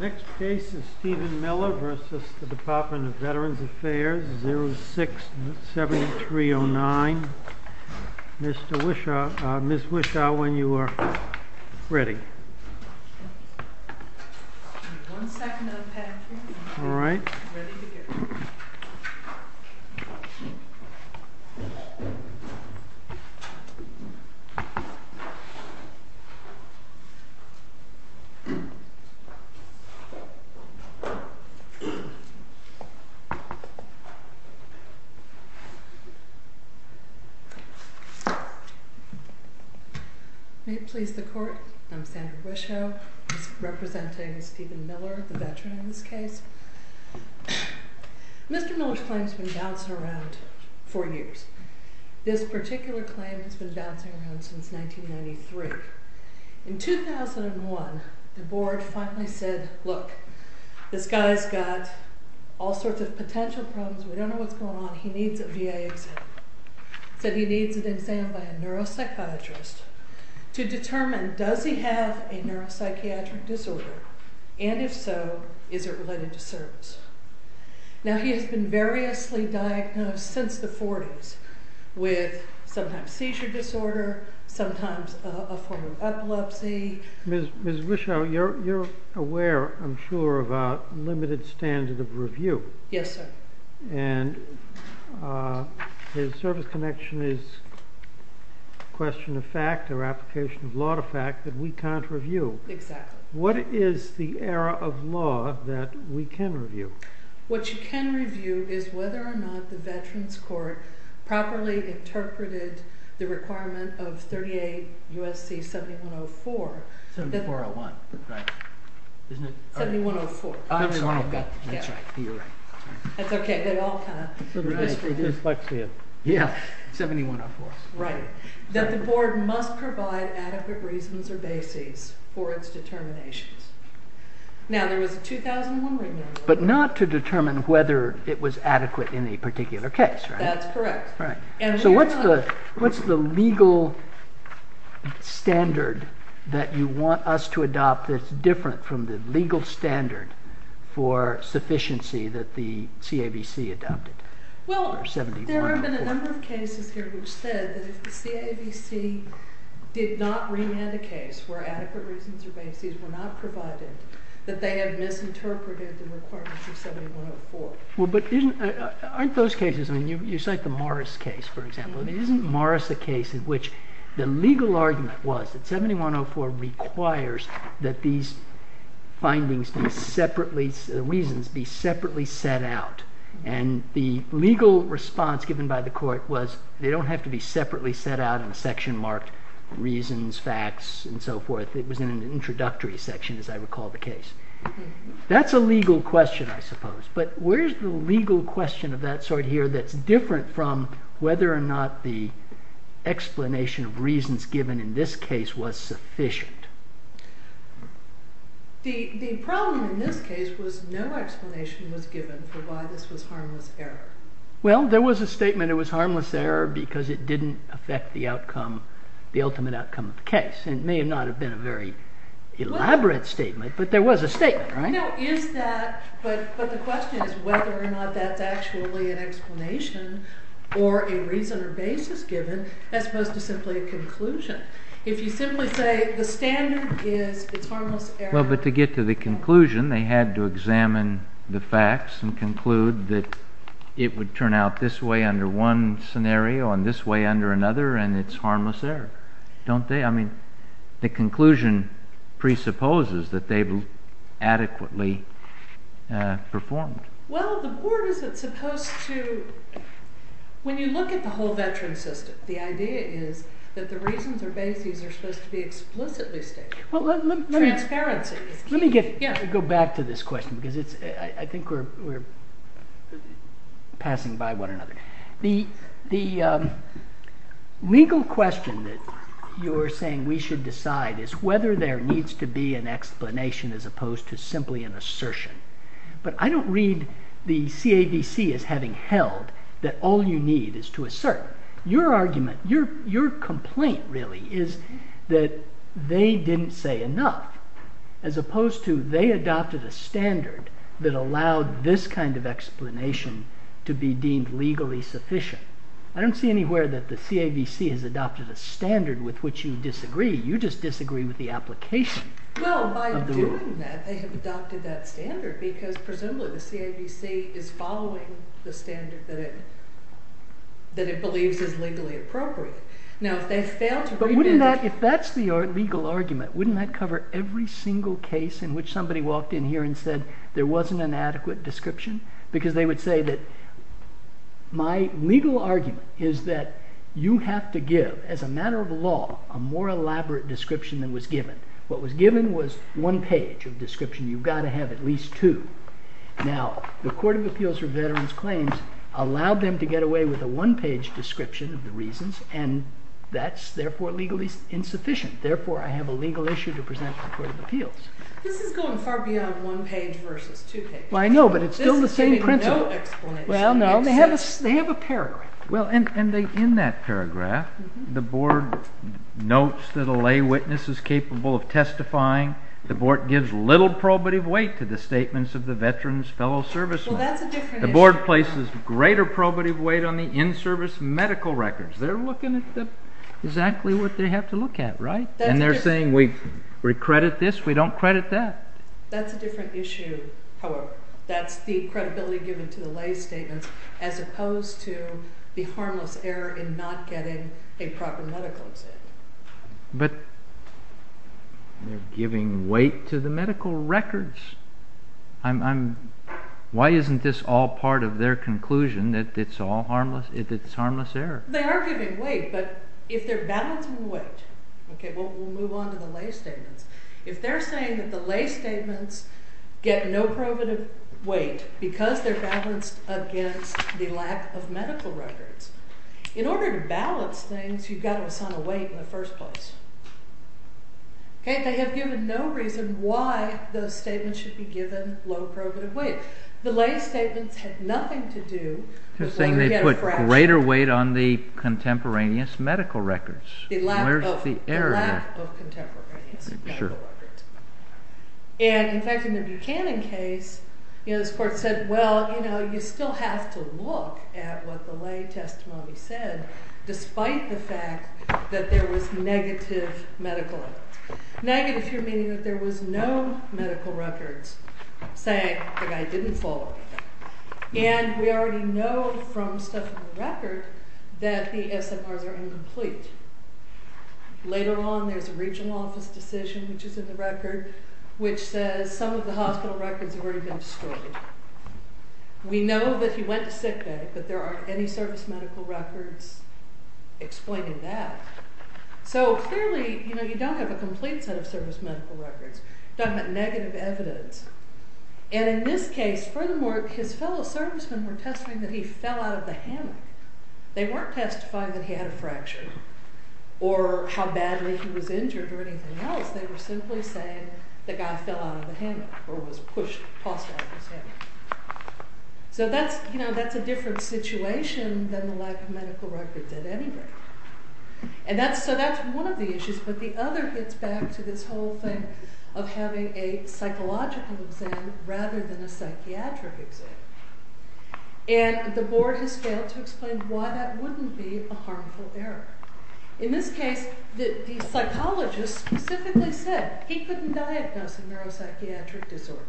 Next case is Stephen Miller v. Department of Veterans Affairs, 06-7309. Ms. Wishaw, when you are ready. May it please the court, I'm Sandra Wishaw, representing Stephen Miller, the veteran in this case. Mr. Miller's claim has been bouncing around for years. This particular claim has been bouncing around since 1993. In 2001, the board finally said, look, this guy's got all sorts of potential problems, we don't know what's going on, he needs a VA exam. So he needs an exam by a neuropsychiatrist to determine does he have a neuropsychiatric disorder, and if so, is it related to service. Now he has been variously diagnosed since the 40s with sometimes seizure disorder, sometimes a form of epilepsy. Ms. Wishaw, you're aware, I'm sure, of our limited standard of review. Yes, sir. And his service connection is a question of fact or application of law to fact that we can't review. Exactly. What is the error of law that we can review? What you can review is whether or not the Veterans Court properly interpreted the requirement of 38 U.S.C. 7104. 7104. 7104. That the board must provide adequate reasons or bases for its determinations. Now there was a 2001 written order. But not to determine whether it was adequate in a particular case, right? That's correct. So what's the legal standard that you want us to adopt that's different from the legal standard for sufficiency that the CABC adopted for 7104? Well, there have been a number of cases here which said that if the CABC did not remand a case where adequate reasons or bases were not provided, that they had misinterpreted the requirement for 7104. Well, but aren't those cases, I mean, you cite the Morris case, for example. Isn't Morris a case in which the legal argument was that 7104 requires that these findings be separately, the reasons be separately set out? And the legal response given by the court was they don't have to be separately set out in a section marked reasons, facts, and so forth. It was in an introductory section, as I recall the case. That's a legal question, I suppose. But where's the legal question of that sort here that's different from whether or not the explanation of reasons given in this case was sufficient? The problem in this case was no explanation was given for why this was harmless error. Well, there was a statement it was harmless error because it didn't affect the outcome, the ultimate outcome of the case. And it may not have been a very elaborate statement, but there was a statement, right? But the question is whether or not that's actually an explanation or a reason or basis given as opposed to simply a conclusion. If you simply say the standard is it's harmless error. The conclusion presupposes that they've adequately performed. Well, the court is supposed to, when you look at the whole veteran system, the idea is that the reasons or basis are supposed to be explicitly stated. Transparency. Let me go back to this question because I think we're passing by one another. The legal question that you're saying we should decide is whether there needs to be an explanation as opposed to simply an assertion. But I don't read the CAVC as having held that all you need is to assert your argument. Your complaint really is that they didn't say enough as opposed to they adopted a standard that allowed this kind of explanation to be deemed legally sufficient. I don't see anywhere that the CAVC has adopted a standard with which you disagree. You just disagree with the application. Well, by doing that, they have adopted that standard because presumably the CAVC is following the standard that it believes is legally appropriate. Now, if they fail to prevent... But wouldn't that, if that's the legal argument, wouldn't that cover every single case in which somebody walked in here and said there wasn't an adequate description? Because they would say that my legal argument is that you have to give, as a matter of law, a more elaborate description than was given. What was given was one page of description. You've got to have at least two. Now, the Court of Appeals for Veterans Claims allowed them to get away with a one-page description of the reasons, and that's therefore legally insufficient. Therefore, I have a legal issue to present to the Court of Appeals. This is going far beyond one page versus two pages. Well, I know, but it's still the same principle. Well, no. They have a paragraph. Well, and in that paragraph, the Board notes that a lay witness is capable of testifying. The Board gives little probative weight to the statements of the veterans' fellow servicemen. Well, that's a different issue. The Board places greater probative weight on the in-service medical records. They're looking at exactly what they have to look at, right? And they're saying we credit this, we don't credit that. That's a different issue, however. That's the credibility given to the lay statements as opposed to the harmless error in not getting a proper medical exam. But they're giving weight to the medical records. Why isn't this all part of their conclusion that it's harmless error? They are giving weight, but if they're balancing weight, okay, we'll move on to the lay statements. If they're saying that the lay statements get no probative weight because they're balanced against the lack of medical records, in order to balance things, you've got to assign a weight in the first place. Okay? They have given no reason why those statements should be given low probative weight. The lay statements had nothing to do with whether you get a fraction. They're saying they put greater weight on the contemporaneous medical records. The lack of contemporaneous. And, in fact, in the Buchanan case, this court said, well, you still have to look at what the lay testimony said, despite the fact that there was negative medical evidence. Negative here meaning that there was no medical records saying the guy didn't fall ill. And we already know from stuff in the record that the SMRs are incomplete. Later on, there's a regional office decision, which is in the record, which says some of the hospital records have already been destroyed. We know that he went to sick bay, but there aren't any service medical records explaining that. So, clearly, you know, you don't have a complete set of service medical records. You're talking about negative evidence. And in this case, furthermore, his fellow servicemen were testifying that he fell out of the hammock. They weren't testifying that he had a fracture or how badly he was injured or anything else. They were simply saying the guy fell out of the hammock or was pushed, tossed out of his hammock. So that's, you know, that's a different situation than the lack of medical records at any rate. And that's, so that's one of the issues. But the other gets back to this whole thing of having a psychological exam rather than a psychiatric exam. And the board has failed to explain why that wouldn't be a harmful error. In this case, the psychologist specifically said he couldn't diagnose a neuropsychiatric disorder.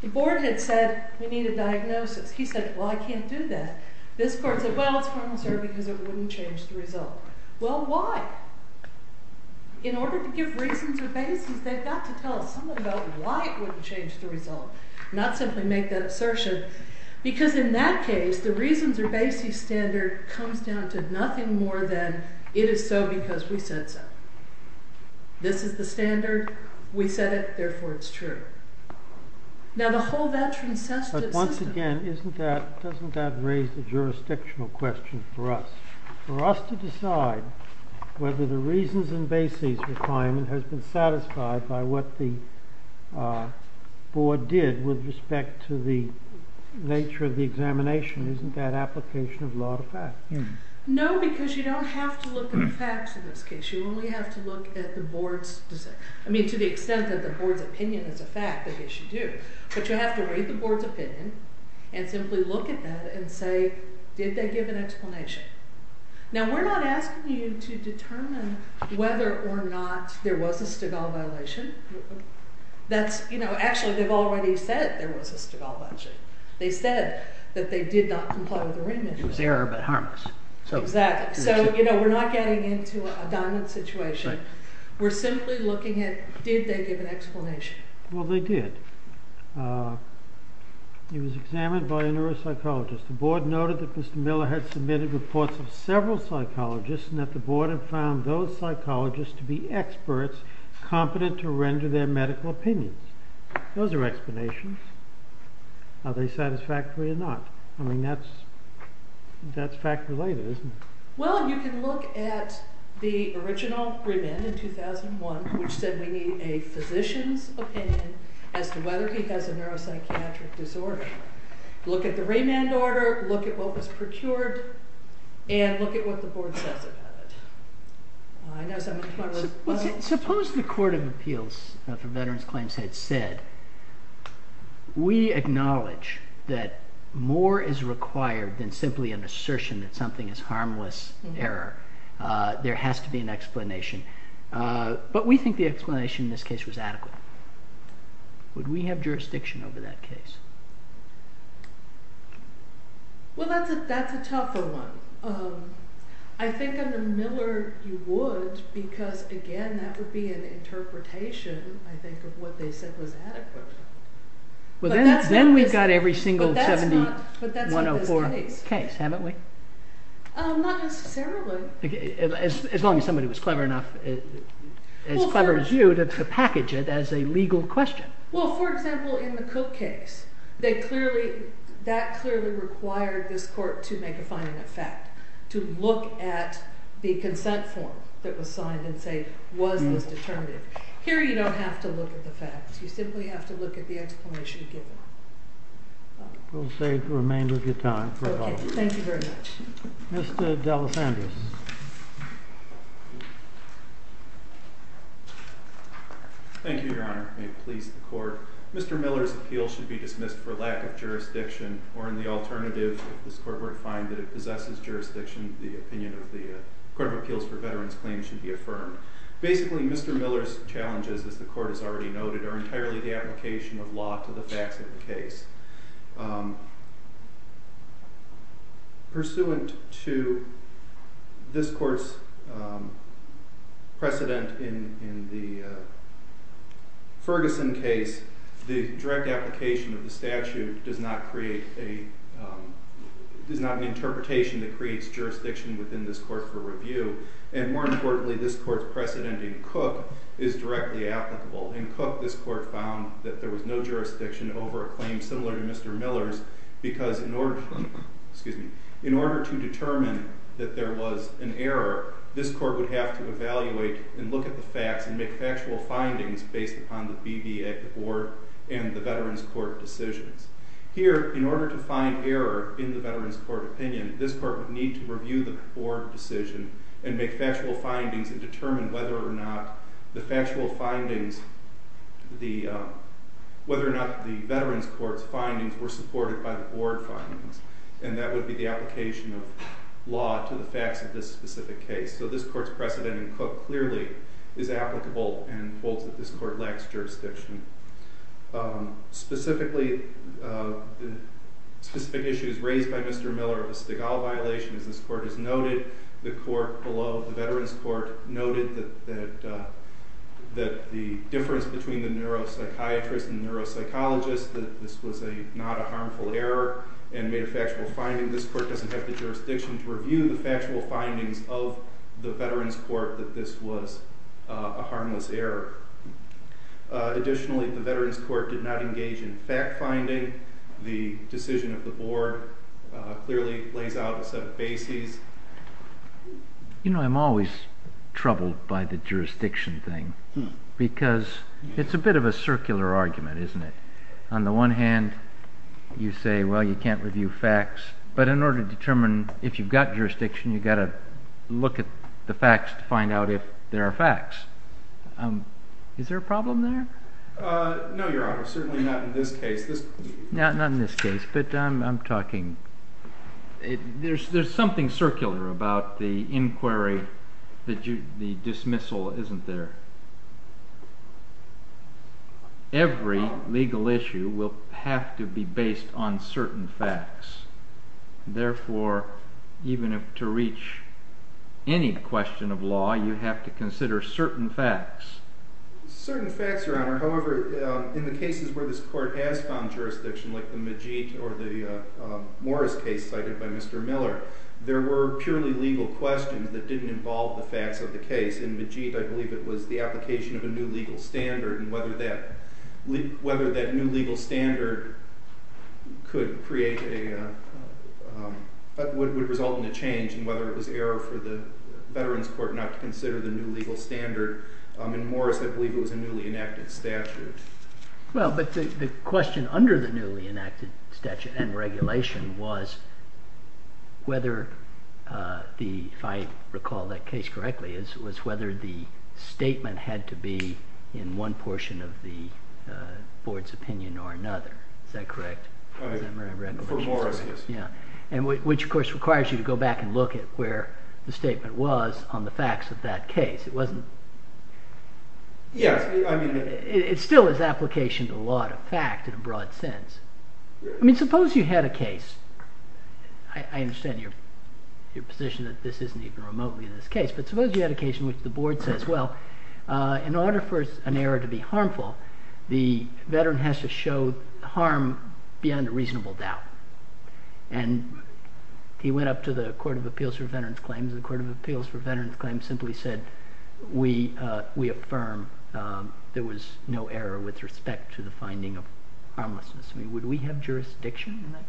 The board had said, we need a diagnosis. He said, well, I can't do that. This court said, well, it's formal, sir, because it wouldn't change the result. Well, why? In order to give reasons or basis, they've got to tell us something about why it wouldn't change the result, not simply make that assertion. Because in that case, the reasons or basis standard comes down to nothing more than it is so because we said so. This is the standard. We said it. Therefore, it's true. Now, the whole of that transcessive system. But once again, isn't that, doesn't that raise a jurisdictional question for us, for us to decide whether the reasons and basis requirement has been satisfied by what the board did with respect to the nature of the examination? Isn't that application of law to fact? No, because you don't have to look at the facts in this case. You only have to look at the board's decision. I mean, to the extent that the board's opinion is a fact, I guess you do. But you have to read the board's opinion and simply look at that and say, did they give an explanation? Now, we're not asking you to determine whether or not there was a Stigall violation. That's, you know, actually, they've already said there was a Stigall violation. They said that they did not comply with the remit. It was error, but harmless. Exactly. So, you know, we're not getting into a diamond situation. We're simply looking at, did they give an explanation? Well, they did. It was examined by a neuropsychologist. The board noted that Mr. Miller had submitted reports of several psychologists and that the board had found those psychologists to be experts, competent to render their medical opinions. Those are explanations. Are they satisfactory or not? I mean, that's fact-related, isn't it? Well, you can look at the original remand in 2001, which said we need a physician's opinion as to whether he has a neuropsychiatric disorder. Look at the remand order. Look at what was procured. And look at what the board says about it. Suppose the Court of Appeals for Veterans Claims had said, we acknowledge that more is required than simply an assertion that something is harmless error. There has to be an explanation. But we think the explanation in this case was adequate. Would we have jurisdiction over that case? Well, that's a tougher one. I think under Miller you would because, again, that would be an interpretation, I think, of what they said was adequate. Then we've got every single 7104 case, haven't we? Not necessarily. As long as somebody was clever enough, as clever as you, to package it as a legal question. Well, for example, in the Cook case, that clearly required this court to make a finding of fact, to look at the consent form that was signed and say, was this determinative? Here you don't have to look at the facts. You simply have to look at the explanation given. We'll save the remainder of your time. Thank you very much. Mr. D'Alessandrius. Thank you, Your Honor. May it please the Court. Mr. Miller's appeal should be dismissed for lack of jurisdiction, or in the alternative, if this court were to find that it possesses jurisdiction, the opinion of the Court of Appeals for Veterans Claims should be affirmed. Basically, Mr. Miller's challenges, as the Court has already noted, are entirely the application of law to the facts of the case. Pursuant to this court's precedent in the Ferguson case, the direct application of the statute does not create an interpretation that creates jurisdiction within this court for review. And more importantly, this court's precedent in Cook is directly applicable. In Cook, this court found that there was no jurisdiction over a claim similar to Mr. Miller's because in order to determine that there was an error, this court would have to evaluate and look at the facts and make factual findings based upon the BVA Board and the Veterans Court decisions. Here, in order to find error in the Veterans Court opinion, this court would need to review the Board decision and make factual findings and determine whether or not the Veterans Court's findings were supported by the Board findings. And that would be the application of law to the facts of this specific case. So this court's precedent in Cook clearly is applicable and holds that this court lacks jurisdiction. Specifically, specific issues raised by Mr. Miller of the Stigall violation, as this court has noted, the court below, the Veterans Court, noted that the difference between the neuropsychiatrist and the neuropsychologist, that this was not a harmful error, and made a factual finding. This court doesn't have the jurisdiction to review the factual findings of the Veterans Court that this was a harmless error. Additionally, the Veterans Court did not engage in fact-finding. The decision of the Board clearly lays out a set of bases. You know, I'm always troubled by the jurisdiction thing because it's a bit of a circular argument, isn't it? On the one hand, you say, well, you can't review facts, but in order to determine if you've got jurisdiction, you've got to look at the facts to find out if there are facts. Is there a problem there? No, Your Honor, certainly not in this case. Not in this case, but I'm talking... There's something circular about the inquiry, the dismissal isn't there. Every legal issue will have to be based on certain facts. Therefore, even if to reach any question of law, you have to consider certain facts. Certain facts, Your Honor. However, in the cases where this court has found jurisdiction, like the Majit or the Morris case cited by Mr. Miller, there were purely legal questions that didn't involve the facts of the case. In Majit, I believe it was the application of a new legal standard, and whether that new legal standard could create a... would result in a change, whether it was error for the Veterans Court not to consider the new legal standard. In Morris, I believe it was a newly enacted statute. Well, but the question under the newly enacted statute and regulation was whether the... if I recall that case correctly, it was whether the statement had to be in one portion of the board's opinion or another. Is that correct? For Morris, yes. And which, of course, requires you to go back and look at where the statement was on the facts of that case. It wasn't... Yes, I mean... It still is application to a lot of fact in a broad sense. I mean, suppose you had a case... I understand your position that this isn't even remotely in this case, but suppose you had a case in which the board says, well, in order for an error to be harmful, the veteran has to show harm beyond a reasonable doubt. And he went up to the Court of Appeals for Veterans Claims, and the Court of Appeals for Veterans Claims simply said, we affirm there was no error with respect to the finding of harmlessness. I mean, would we have jurisdiction in that case?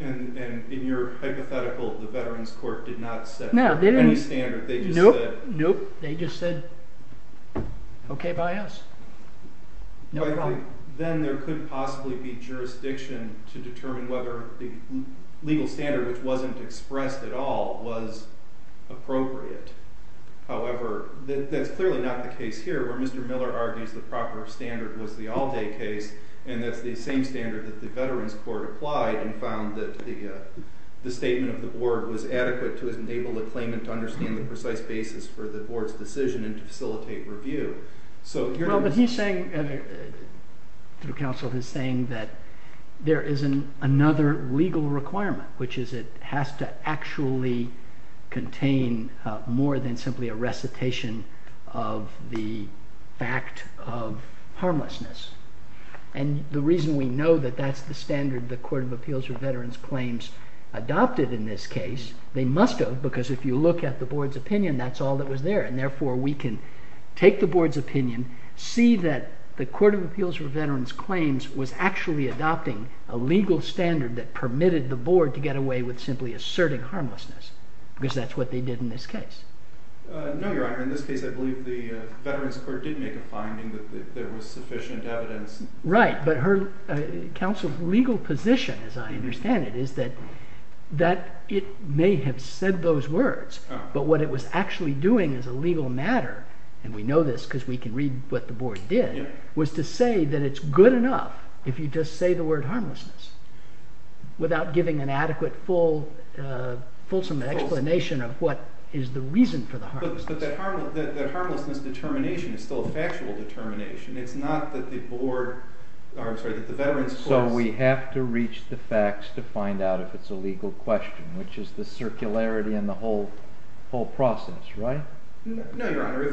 And in your hypothetical, the Veterans Court did not set any standard. No, they didn't. They just said... Then there couldn't possibly be jurisdiction to determine whether the legal standard, which wasn't expressed at all, was appropriate. However, that's clearly not the case here, where Mr. Miller argues the proper standard was the all-day case, and that's the same standard that the Veterans Court applied and found that the statement of the board was adequate to enable the claimant to understand the precise basis for the board's decision and to facilitate review. But he's saying, through counsel, he's saying that there is another legal requirement, which is it has to actually contain more than simply a recitation of the fact of harmlessness. And the reason we know that that's the standard the Court of Appeals for Veterans Claims adopted in this case, they must have, because if you look at the board's opinion, that's all that was there, and therefore we can take the board's opinion, see that the Court of Appeals for Veterans Claims was actually adopting a legal standard that permitted the board to get away with simply asserting harmlessness, because that's what they did in this case. No, Your Honor. In this case, I believe the Veterans Court did make a finding that there was sufficient evidence... Right, but counsel's legal position, as I understand it, is that it may have said those words, but what it was actually doing as a legal matter, and we know this because we can read what the board did, was to say that it's good enough if you just say the word harmlessness without giving an adequate, fulsome explanation of what is the reason for the harmlessness. But that harmlessness determination is still a factual determination. It's not that the board... So we have to reach the facts to find out if it's a legal question, which is the circularity in the whole process, right? No, Your Honor.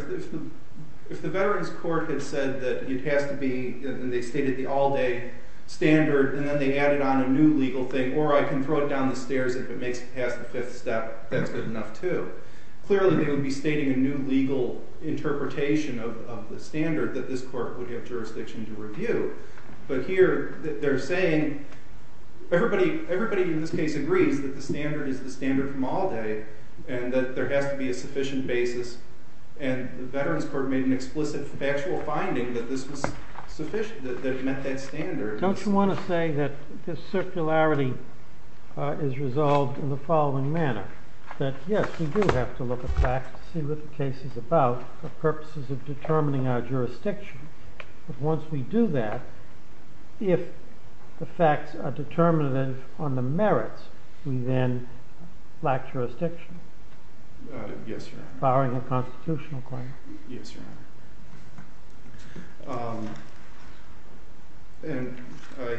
If the Veterans Court had said that it has to be... and they stated the all-day standard, and then they added on a new legal thing, or I can throw it down the stairs if it makes it past the fifth step, that's good enough, too. Clearly, they would be stating a new legal interpretation of the standard that this court would have jurisdiction to review. But here, they're saying... Everybody in this case agrees that the standard is the standard from all day, and that there has to be a sufficient basis, and the Veterans Court made an explicit factual finding that this was sufficient, that it met that standard. Don't you want to say that this circularity is resolved in the following manner? That yes, we do have to look at facts to see what the case is about for purposes of determining our jurisdiction. But once we do that, if the facts are determinative on the merits, we then lack jurisdiction. Yes, Your Honor. Barring a constitutional claim. Yes, Your Honor. And I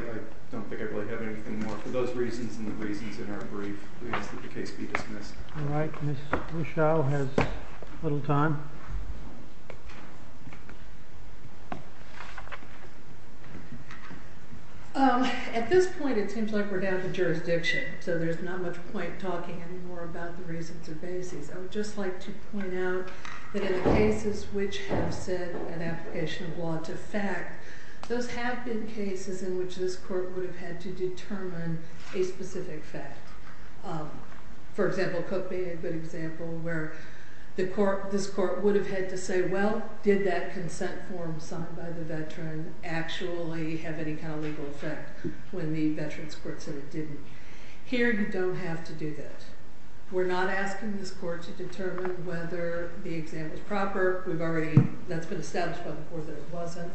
don't think I really have anything more for those reasons, and the reasons in our brief. We ask that the case be dismissed. All right, Ms. Ruschow has a little time. At this point, it seems like we're down to jurisdiction, so there's not much point talking anymore about the reasons or basis. I would just like to point out that in the cases which have set an application of law to fact, those have been cases in which this court would have had to determine a specific fact. For example, Cook being a good example, where this court would have had to say, well, did that consent form signed by the veteran actually have any kind of legal effect when the veteran's court said it didn't? Here, you don't have to do that. We're not asking this court to determine whether the example's proper. We've already... That's been established by the court that it wasn't.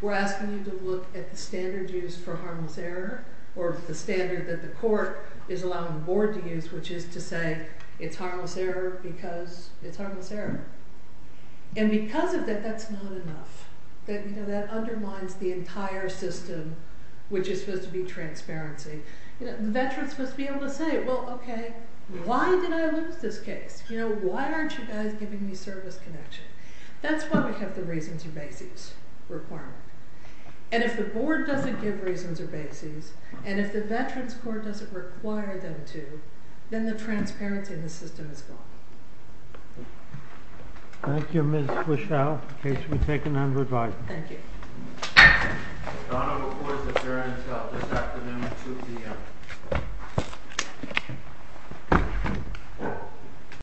We're asking you to look at the standard used for harmless error or the standard that the court is allowing the board to use, which is to say it's harmless error because it's harmless error. And because of that, that's not enough. That undermines the entire system, which is supposed to be transparency. The veteran's supposed to be able to say, well, OK, why did I lose this case? Why aren't you guys giving me service connection? That's why we have the reasons or basis requirement. And if the board doesn't give reasons or basis, and if the veterans' court doesn't require them to, then the transparency in the system is gone. Thank you, Ms. Fischel. The case will be taken under advisement. Thank you. The Honorable Court is adjourned until this afternoon at 2 p.m.